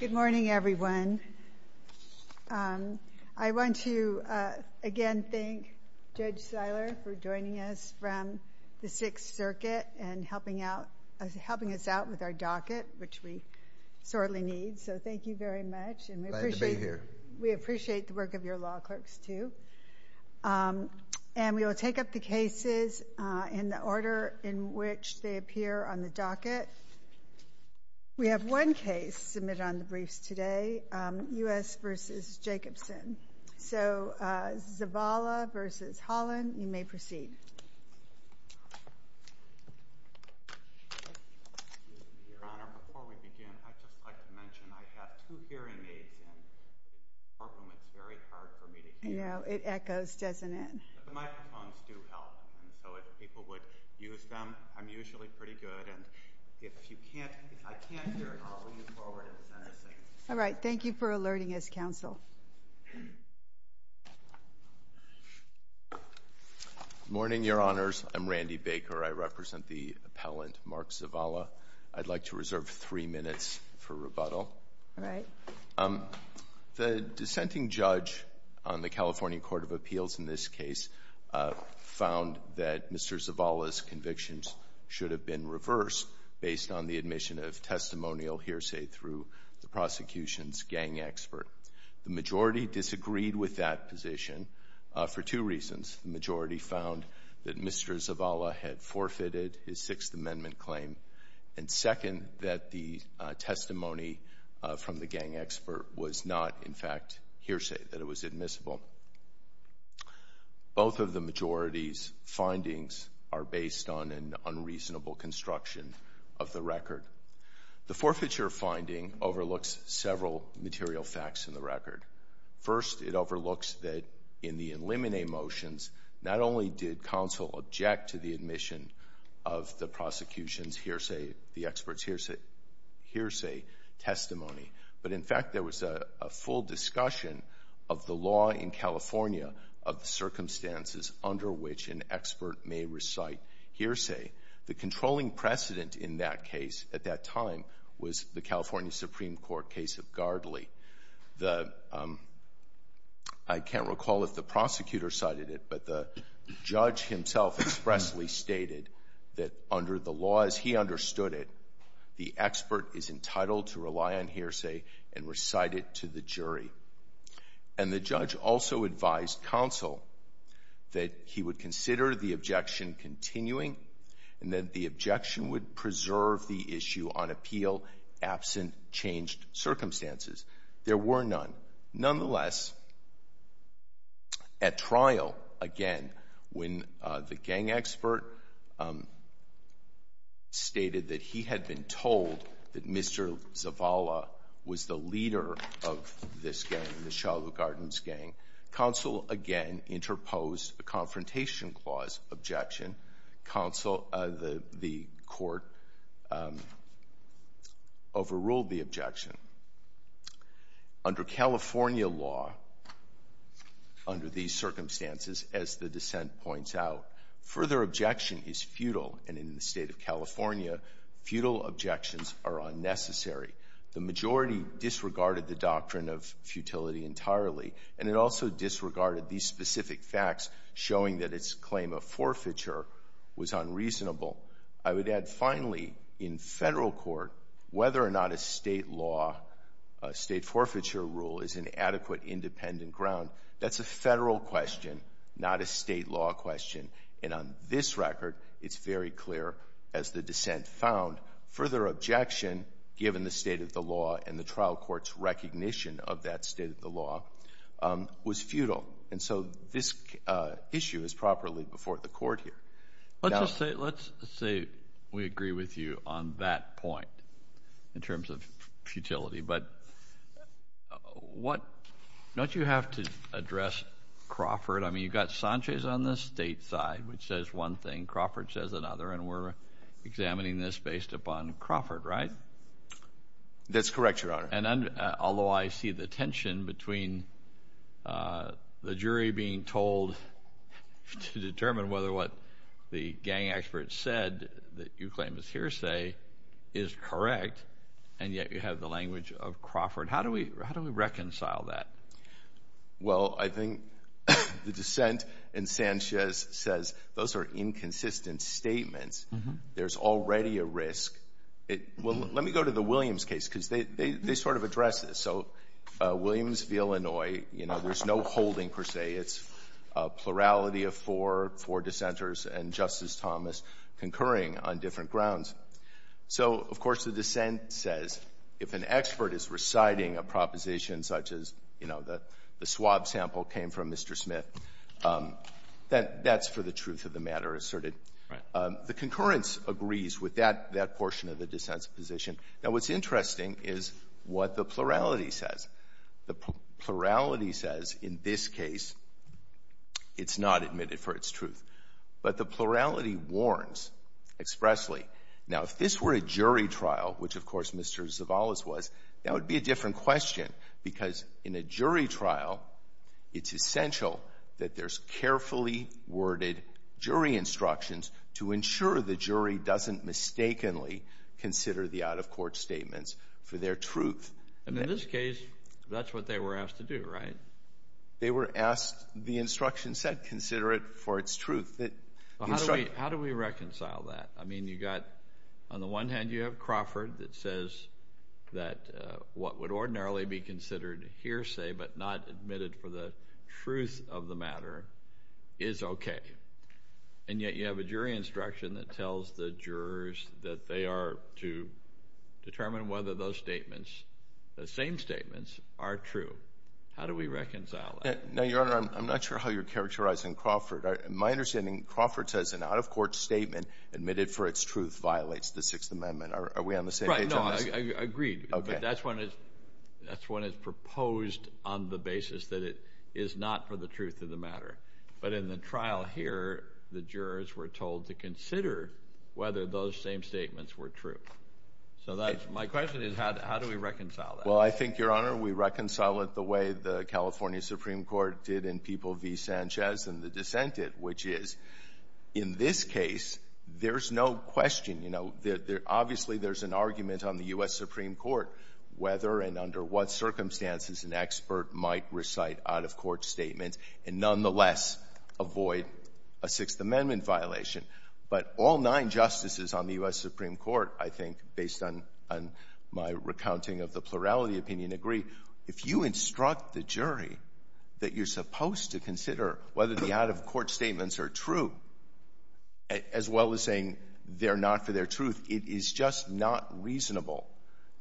Good morning everyone. I want to again thank Judge Seiler for joining us from the Sixth Circuit and helping us out with our docket which we sorely need. So thank you very much and we appreciate the work of your law clerks too. And we will take up the cases in the order in which they appear on the docket. We have one case submitted on the briefs today, U.S. v. Jacobson. So Zavala v. Holland, you may proceed. Your Honor, before we begin, I'd just like to mention I have two hearing aids in. It's very hard for me to hear. I know. It echoes, doesn't it? The microphones do help. And so if people would use them, I'm usually pretty good. And if you can't, if I can't hear it, I'll bring it forward and send it to you. All right. Thank you for alerting us, Counsel. Good morning, Your Honors. I'm Randy Baker. I represent the appellant Mark Zavala. I'd like to reserve three minutes for rebuttal. All right. The dissenting judge on the California Court of Appeals in this case found that Mr. Zavala's convictions should have been reversed based on the admission of testimonial hearsay through the prosecution's gang expert. The majority disagreed with that position for two reasons. The majority found that Mr. Zavala had forfeited his Sixth Amendment claim, and second, that the testimony from the gang expert was not, in fact, hearsay, that it was admissible. Both of the majority's findings are based on an unreasonable construction of the several material facts in the record. First, it overlooks that in the eliminate motions, not only did counsel object to the admission of the prosecution's hearsay, the expert's hearsay testimony, but, in fact, there was a full discussion of the law in California of the circumstances under which an expert may recite hearsay. The controlling precedent in that case at that time was the California Supreme Court case of Gardley. The — I can't recall if the prosecutor cited it, but the judge himself expressly stated that under the laws he understood it, the expert is entitled to rely on hearsay and recite it to the jury. And the judge also advised counsel that he would consider the objection continuing and that the objection would preserve the issue on appeal absent changed circumstances. There were none. Nonetheless, at trial, again, when the gang expert stated that he had been told that Mr. Zavala was the leader of this gang, the Shiloh Gardens gang, counsel again interposed the Confrontation Clause objection. Counsel — the court overruled the objection. Under California law, under these circumstances, as the dissent points out, further objection is futile, and in the State of California, futile objections are unnecessary. The majority disregarded the doctrine of futility entirely, and it also disregarded these specific facts, showing that its claim of forfeiture was unreasonable. I would add, finally, in Federal court, whether or not a State law — a State forfeiture rule is an adequate independent ground, that's a Federal question, not a State law question. And on this record, it's very clear, as the dissent found, further objection, given the State of the law and the trial court's recognition of that State of the law, was futile. And so this issue is properly before the Court here. Now — Let's just say — let's say we agree with you on that point in terms of futility. But what — don't you have to address Crawford? I mean, you've got Sanchez on the State side, which says one thing, Crawford says another, and we're examining this based upon Crawford, right? That's correct, Your Honor. And although I see the tension between the jury being told to determine whether what the gang expert said that you claim is hearsay is correct, and yet you have the language of Crawford, how do we reconcile that? Well, I think the dissent in Sanchez says those are inconsistent statements. There's already a risk. Let me go to the Williams case, because they sort of address this. So Williams v. Illinois, you know, there's no holding, per se. It's a plurality of four, four dissenters, and Justice Thomas concurring on different grounds. So, of course, the dissent says if an expert is reciting a proposition such as, you know, the swab sample came from Mr. Smith, that that's for the truth of the matter asserted. The concurrence agrees with that portion of the dissent's position. Now, what's interesting is what the plurality says. The plurality says in this case it's not admitted for its truth. But the plurality warns expressly. Now, if this were a jury trial, which, of course, Mr. Zavalas was, that would be a different question, because in a jury trial, it's essential that there's carefully worded jury instructions to ensure the jury doesn't mistakenly consider the out-of-court statements for their truth. And in this case, that's what they were asked to do, right? They were asked, the instruction said, consider it for its truth. How do we reconcile that? I mean, you've got, on the one hand, you have Crawford that says that what would ordinarily be considered hearsay but not admitted for the truth of the matter is okay. And yet you have a jury instruction that tells the jurors that they are to determine whether those statements, the same statements, are true. How do we reconcile that? Now, Your Honor, I'm not sure how you're characterizing Crawford. In my understanding, Crawford says an out-of-court statement admitted for its truth violates the Sixth Amendment. Are we on the same page on this? Right. No, I agree. Okay. But that's when it's proposed on the basis that it is not for the truth of the matter. But in the trial here, the jurors were told to consider whether those same statements were true. So my question is, how do we reconcile that? Well, I think, Your Honor, we reconcile it the way the California Supreme Court did in People v. Sanchez and the dissented, which is, in this case, there's no question you know, obviously there's an argument on the U.S. Supreme Court whether and under what circumstances an expert might recite out-of-court statements and nonetheless avoid a Sixth Amendment violation. But all nine justices on the U.S. Supreme Court, I think, based on my recounting of the plurality opinion, agree. If you instruct the jury that you're supposed to consider whether the out-of-court statements are true, as well as saying they're not for their truth, it is just not reasonable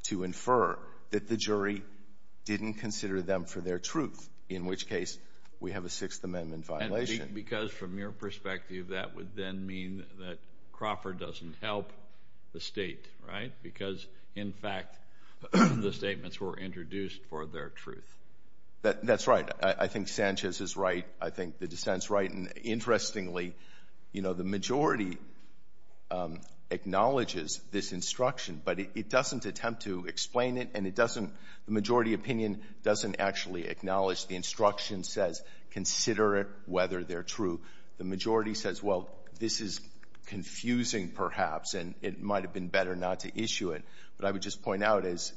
to infer that the jury didn't consider them for their truth, in which case we have a Sixth Amendment violation. Because from your perspective, that would then mean that Crawford doesn't help the State, right? Because, in fact, the statements were introduced for their truth. That's right. I think Sanchez is right. I think the dissent's right. And interestingly, you know, the majority acknowledges this instruction, but it doesn't attempt to explain it, and it doesn't, the majority opinion doesn't actually acknowledge the instruction says, consider it whether they're true. The majority says, well, this is confusing, perhaps, and it might have been better not to issue it. But I would just point out, as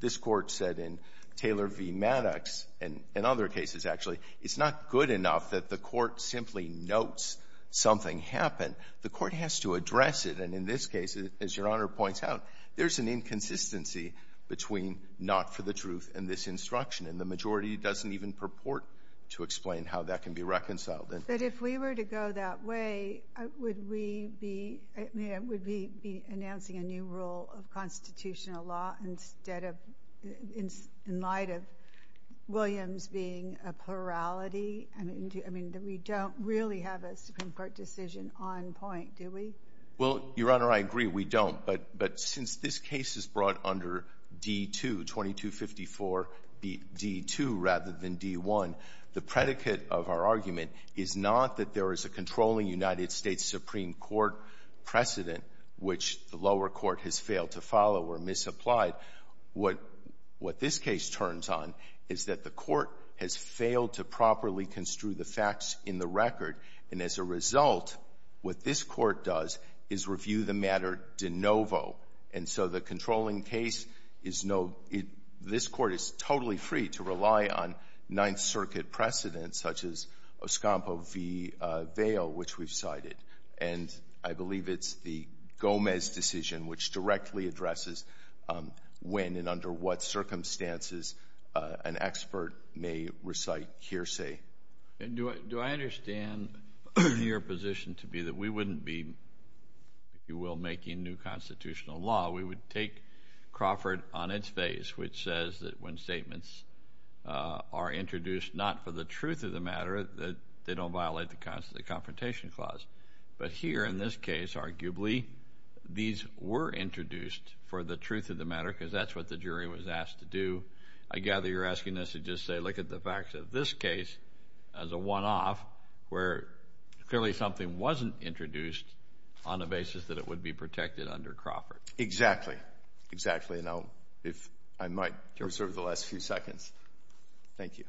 this Court said in Taylor v. Maddox, and in other cases, actually, it's not good enough that the Court simply notes something happened. The Court has to address it. And in this case, as Your Honor points out, there's an inconsistency between not for the truth and this instruction. And the majority doesn't even purport to explain how that can be reconciled. But if we were to go that way, would we be, I mean, would we be announcing a new rule of constitutional law instead of, in light of Williams being a plurality? I mean, we don't really have a Supreme Court decision on point, do we? Well, Your Honor, I agree we don't. But since this case is brought under D-2, 2254 D-2 rather than D-1, the predicate of our argument is not that there is a controlling United States Supreme Court precedent which the lower court has failed to follow or misapplied. What this case turns on is that the Court has failed to properly construe the facts in the record. And as a result, what this Court does is review the matter de novo. And so the controlling case is no — this Court is totally free to rely on Ninth Circuit precedents such as Oscampo v. Vail, which we've cited. And I believe it's the Gomez decision which directly addresses when and under what circumstances an expert may recite hearsay. Do I understand your position to be that we wouldn't be, if you will, making new constitutional law? We would take Crawford on its face, which says that when statements are introduced not for the truth of the matter, that they don't violate the Confrontation Clause. But here in this case, arguably, these were introduced for the truth of the matter because that's what the jury was asked to do. I gather you're asking us to just say look at the facts of this case as a one-off where clearly something wasn't introduced on the basis that it would be protected under Crawford. Exactly. Exactly. And I might reserve the last few seconds. Thank you.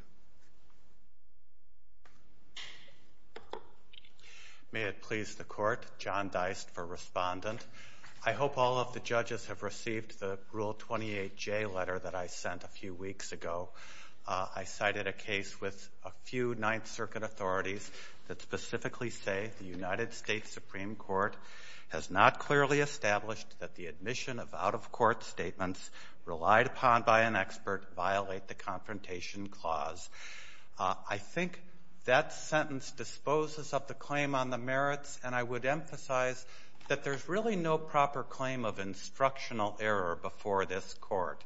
May it please the Court, John Deist for Respondent. I hope all of the judges have received the Rule 28J letter that I sent a few weeks ago. I cited a case with a few Ninth Circuit authorities that specifically say the United States Supreme Court has not clearly established that the admission of out-of-court statements relied upon by an expert violate the Confrontation Clause. I think that sentence disposes of the claim on the merits, and I would emphasize that there's really no proper claim of instructional error before this Court.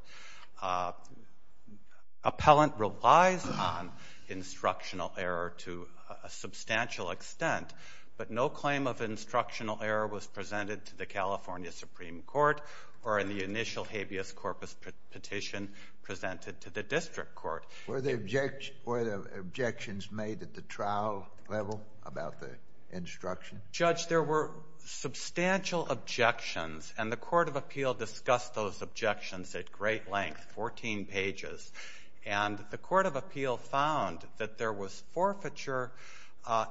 Appellant relies upon instructional error to a substantial extent, but no claim of instructional error was presented to the California Supreme Court or in the initial habeas corpus petition presented to the district court. Were there objections made at the trial level about the instruction? Judge, there were substantial objections, and the Court of Appeal discussed those objections at great length, 14 pages. And the Court of Appeal found that there was forfeiture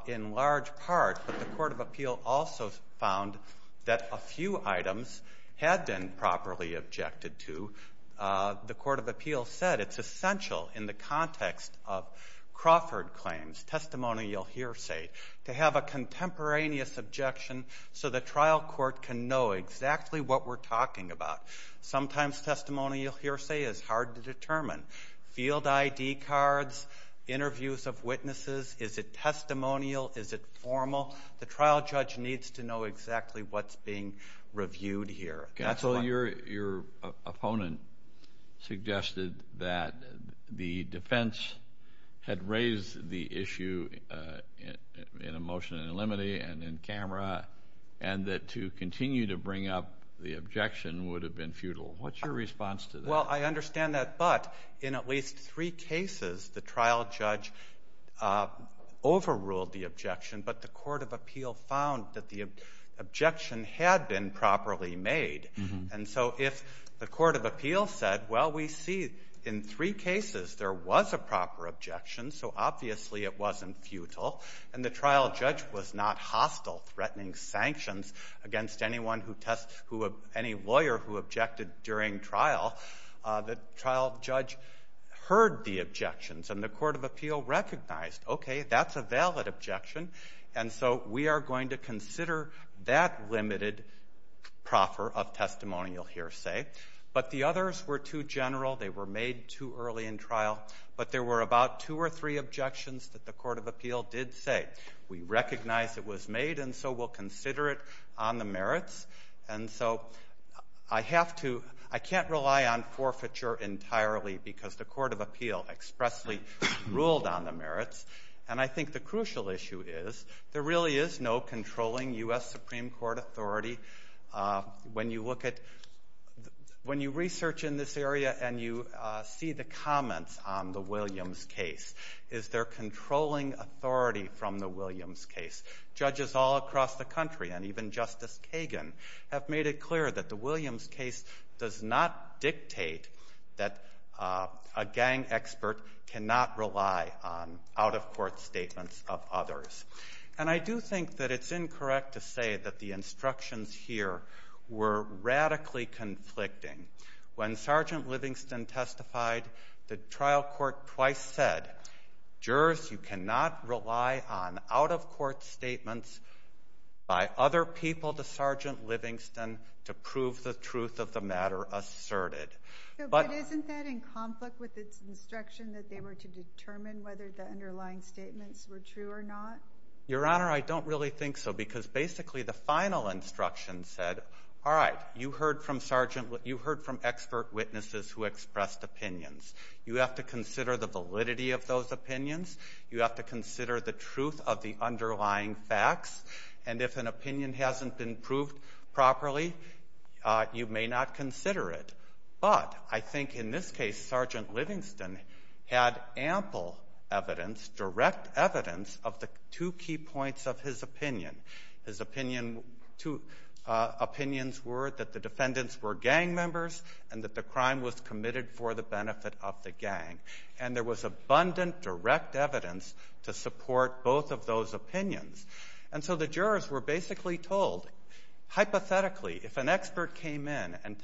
in large part, but the Court of Appeal also found that a few items had been properly objected to. The Court of Appeal said it's essential in the context of Crawford claims, testimonial hearsay, to have a contemporaneous objection so the trial court can know exactly what we're talking about. Sometimes testimonial hearsay is hard to determine. Field ID cards, interviews of witnesses, is it testimonial, is it formal? The trial judge needs to know exactly what's being reviewed here. So your opponent suggested that the defense had raised the issue in a motion in limine and in camera, and that to continue to bring up the objection would have been futile. What's your response to that? Well, I understand that, but in at least three cases, the trial judge overruled the And so if the Court of Appeal said, well, we see in three cases there was a proper objection, so obviously it wasn't futile, and the trial judge was not hostile, threatening sanctions against anyone who tests who any lawyer who objected during trial, the trial judge heard the objections, and the Court of Appeal recognized, okay, that's a valid objection, and so we are going to consider that limited proffer of testimonial hearsay. But the others were too general. They were made too early in trial. But there were about two or three objections that the Court of Appeal did say. We recognize it was made, and so we'll consider it on the merits. And so I have to – I can't rely on forfeiture entirely because the Court of Appeal expressly ruled on the merits, and I think the crucial issue is there really is no controlling U.S. Supreme Court authority. When you look at – when you research in this area and you see the comments on the Williams case, is there controlling authority from the Williams case? Judges all across the country and even Justice Kagan have made it clear that the court cannot rely on out-of-court statements of others. And I do think that it's incorrect to say that the instructions here were radically conflicting. When Sergeant Livingston testified, the trial court twice said, jurors, you cannot rely on out-of-court statements by other people to Sergeant Livingston to prove the truth of the matter asserted. But isn't that in conflict with its instruction that they were to determine whether the underlying statements were true or not? Your Honor, I don't really think so, because basically the final instruction said, all right, you heard from Sergeant – you heard from expert witnesses who expressed opinions. You have to consider the validity of those opinions. You have to consider the truth of the underlying facts. And if an opinion hasn't been proved properly, you may not consider it. But I think in this case Sergeant Livingston had ample evidence, direct evidence of the two key points of his opinion. His opinion – two opinions were that the defendants were gang members and that the crime was committed for the benefit of the gang. And there was abundant direct evidence to support both of those opinions. And so the jurors were basically told, hypothetically, if an expert came in and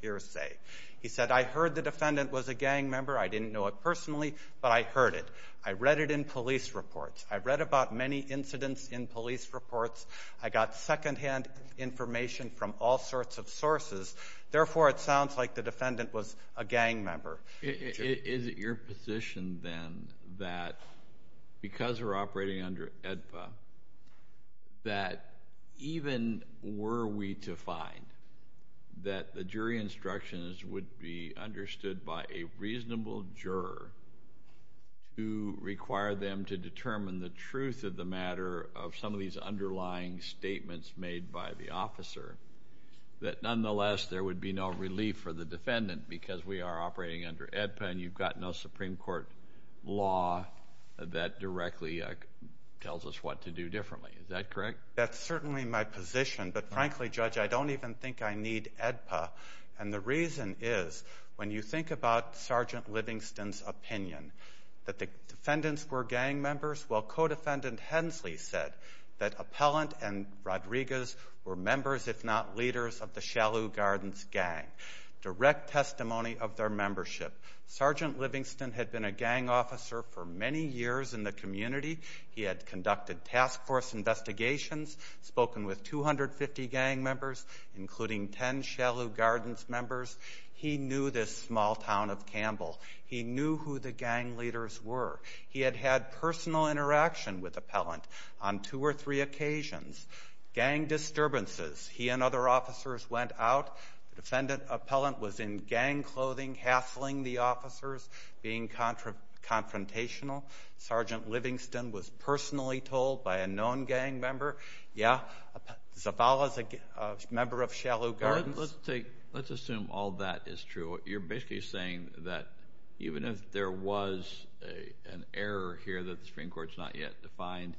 hearsay. He said, I heard the defendant was a gang member. I didn't know it personally, but I heard it. I read it in police reports. I read about many incidents in police reports. I got secondhand information from all sorts of sources. Therefore, it sounds like the defendant was a gang member. Is it your position, then, that because we're operating under AEDPA, that even were we to find that the jury instructions would be understood by a reasonable juror to require them to determine the truth of the matter of some of these underlying statements made by the officer, that nonetheless there would be no relief for the defendant because we are operating under AEDPA and you've got no Supreme Court law that directly tells us what to do differently? Is that correct? That's certainly my position. But, frankly, Judge, I don't even think I need AEDPA. And the reason is, when you think about Sergeant Livingston's opinion, that the defendants were gang members, while Codefendant Hensley said that Appellant and Rodriguez were members, if not leaders, of the Shalhou Gardens gang. Direct testimony of their membership. Sergeant Livingston had been a gang officer for many years in the community. He had conducted task force investigations, spoken with 250 gang members, including 10 Shalhou Gardens members. He knew this small town of Campbell. He knew who the gang leaders were. He had had personal interaction with Appellant on two or three occasions. Gang disturbances. He and other officers went out. The defendant, Appellant, was in gang clothing, hassling the officers, being confrontational. Sergeant Livingston was personally told by a known gang member, yeah, Zavala's a member of Shalhou Gardens. Let's assume all that is true. You're basically saying that even if there was an error here that the Supreme Court has not yet defined,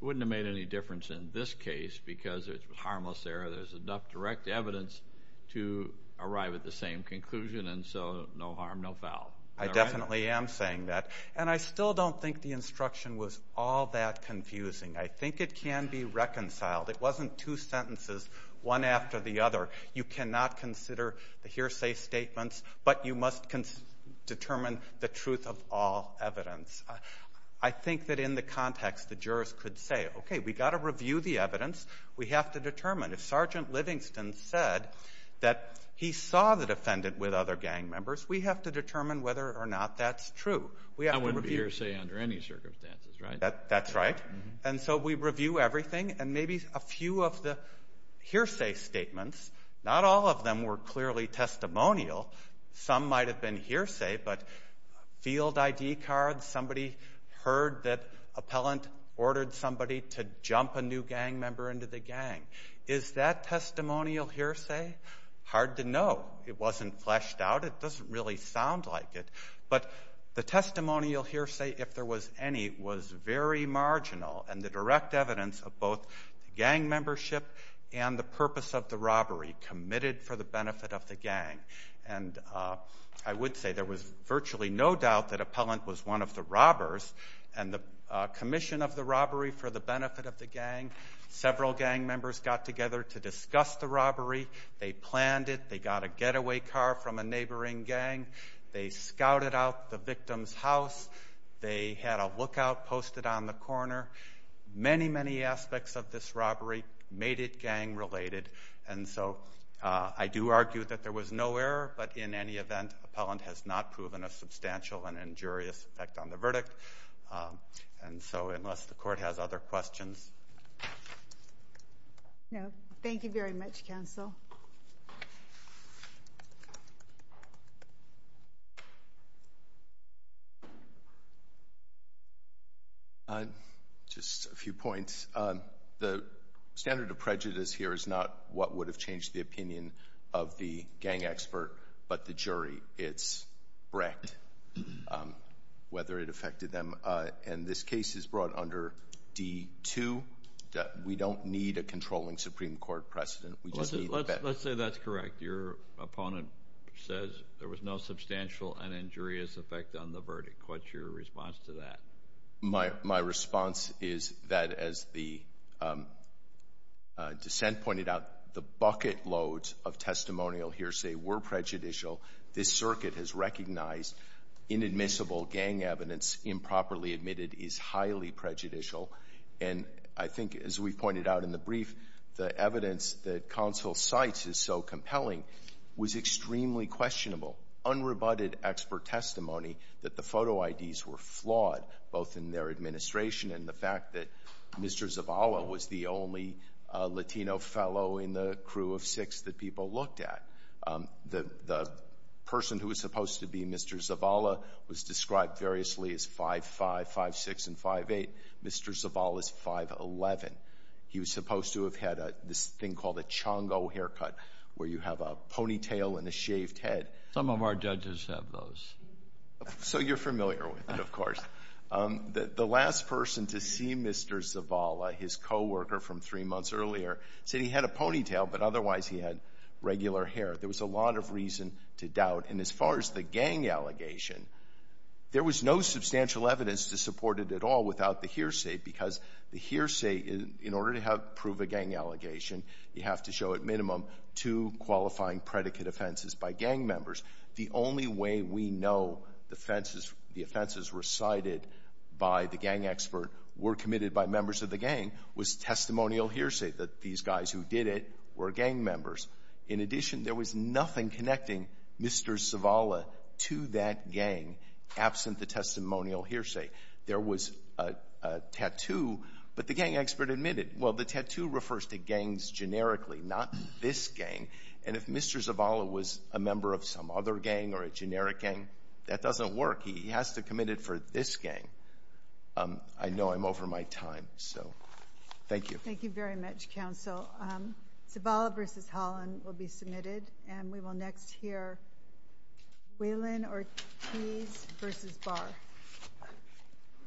it wouldn't have made any difference in this case because it's a harmless error. There's enough direct evidence to arrive at the same conclusion. And so no harm, no foul. I definitely am saying that. And I still don't think the instruction was all that confusing. I think it can be reconciled. It wasn't two sentences, one after the other. You cannot consider the hearsay statements, but you must determine the truth of all evidence. I think that in the context, the jurors could say, okay, we've got to review the evidence. We have to determine. If Sergeant Livingston said that he saw the defendant with other gang members, we have to determine whether or not that's true. I wouldn't be hearsay under any circumstances, right? That's right. And so we review everything, and maybe a few of the hearsay statements, not all of them were clearly testimonial. Some might have been hearsay, but field ID cards, somebody heard that appellant ordered somebody to jump a new gang member into the gang. Is that testimonial hearsay? Hard to know. It wasn't fleshed out. It doesn't really sound like it. But the testimonial hearsay, if there was any, was very marginal, and the direct evidence of both gang membership and the purpose of the robbery committed for the benefit of the gang. And I would say there was virtually no doubt that appellant was one of the robbers, and the commission of the robbery for the benefit of the gang. Several gang members got together to discuss the robbery. They planned it. They got a getaway car from a neighboring gang. They scouted out the victim's house. They had a lookout posted on the corner. Many, many aspects of this robbery made it gang-related. And so I do argue that there was no error, but in any event, appellant has not proven a substantial and injurious effect on the verdict. And so unless the court has other questions. No. Thank you very much, counsel. Just a few points. The standard of prejudice here is not what would have changed the opinion of the gang expert, but the jury, its breadth, whether it affected them. And this case is brought under D-2. We don't need a controlling Supreme Court precedent. Let's say that's correct. Your opponent says there was no substantial and injurious effect on the verdict. What's your response to that? My response is that as the dissent pointed out, the bucket loads of testimonial hearsay were prejudicial. This circuit has recognized inadmissible gang evidence improperly admitted is highly prejudicial. And I think, as we pointed out in the brief, the evidence that counsel cites is so compelling was extremely questionable. Unrebutted expert testimony that the photo IDs were flawed, both in their administration and the fact that Mr. Zavala was the only Latino fellow in the crew of six that people looked at. The person who was supposed to be Mr. Zavala was described variously as 5'5", 5'6", and 5'8". Mr. Zavala is 5'11". He was supposed to have had this thing called a chongo haircut, where you have a ponytail and a shaved head. Some of our judges have those. So you're familiar with it, of course. The last person to see Mr. Zavala, his coworker from three months earlier, said he had a ponytail, but otherwise he had regular hair. There was a lot of reason to doubt. And as far as the gang allegation, there was no substantial evidence to support it at all without the hearsay, because the hearsay, in order to prove a gang allegation, you have to show at minimum two qualifying predicate offenses by gang members. The only way we know the offenses recited by the gang expert were committed by members of the gang was testimonial hearsay, that these guys who did it were gang members. In addition, there was nothing connecting Mr. Zavala to that gang absent the testimonial hearsay. There was a tattoo, but the gang expert admitted, well, the tattoo refers to gangs generically, not this gang. And if Mr. Zavala was a member of some other gang or a generic gang, that doesn't work. He has to commit it for this gang. I know I'm over my time, so thank you. Thank you very much, Counsel. Zavala v. Holland will be submitted, and we will next hear Whelan, Ortiz v. Barr.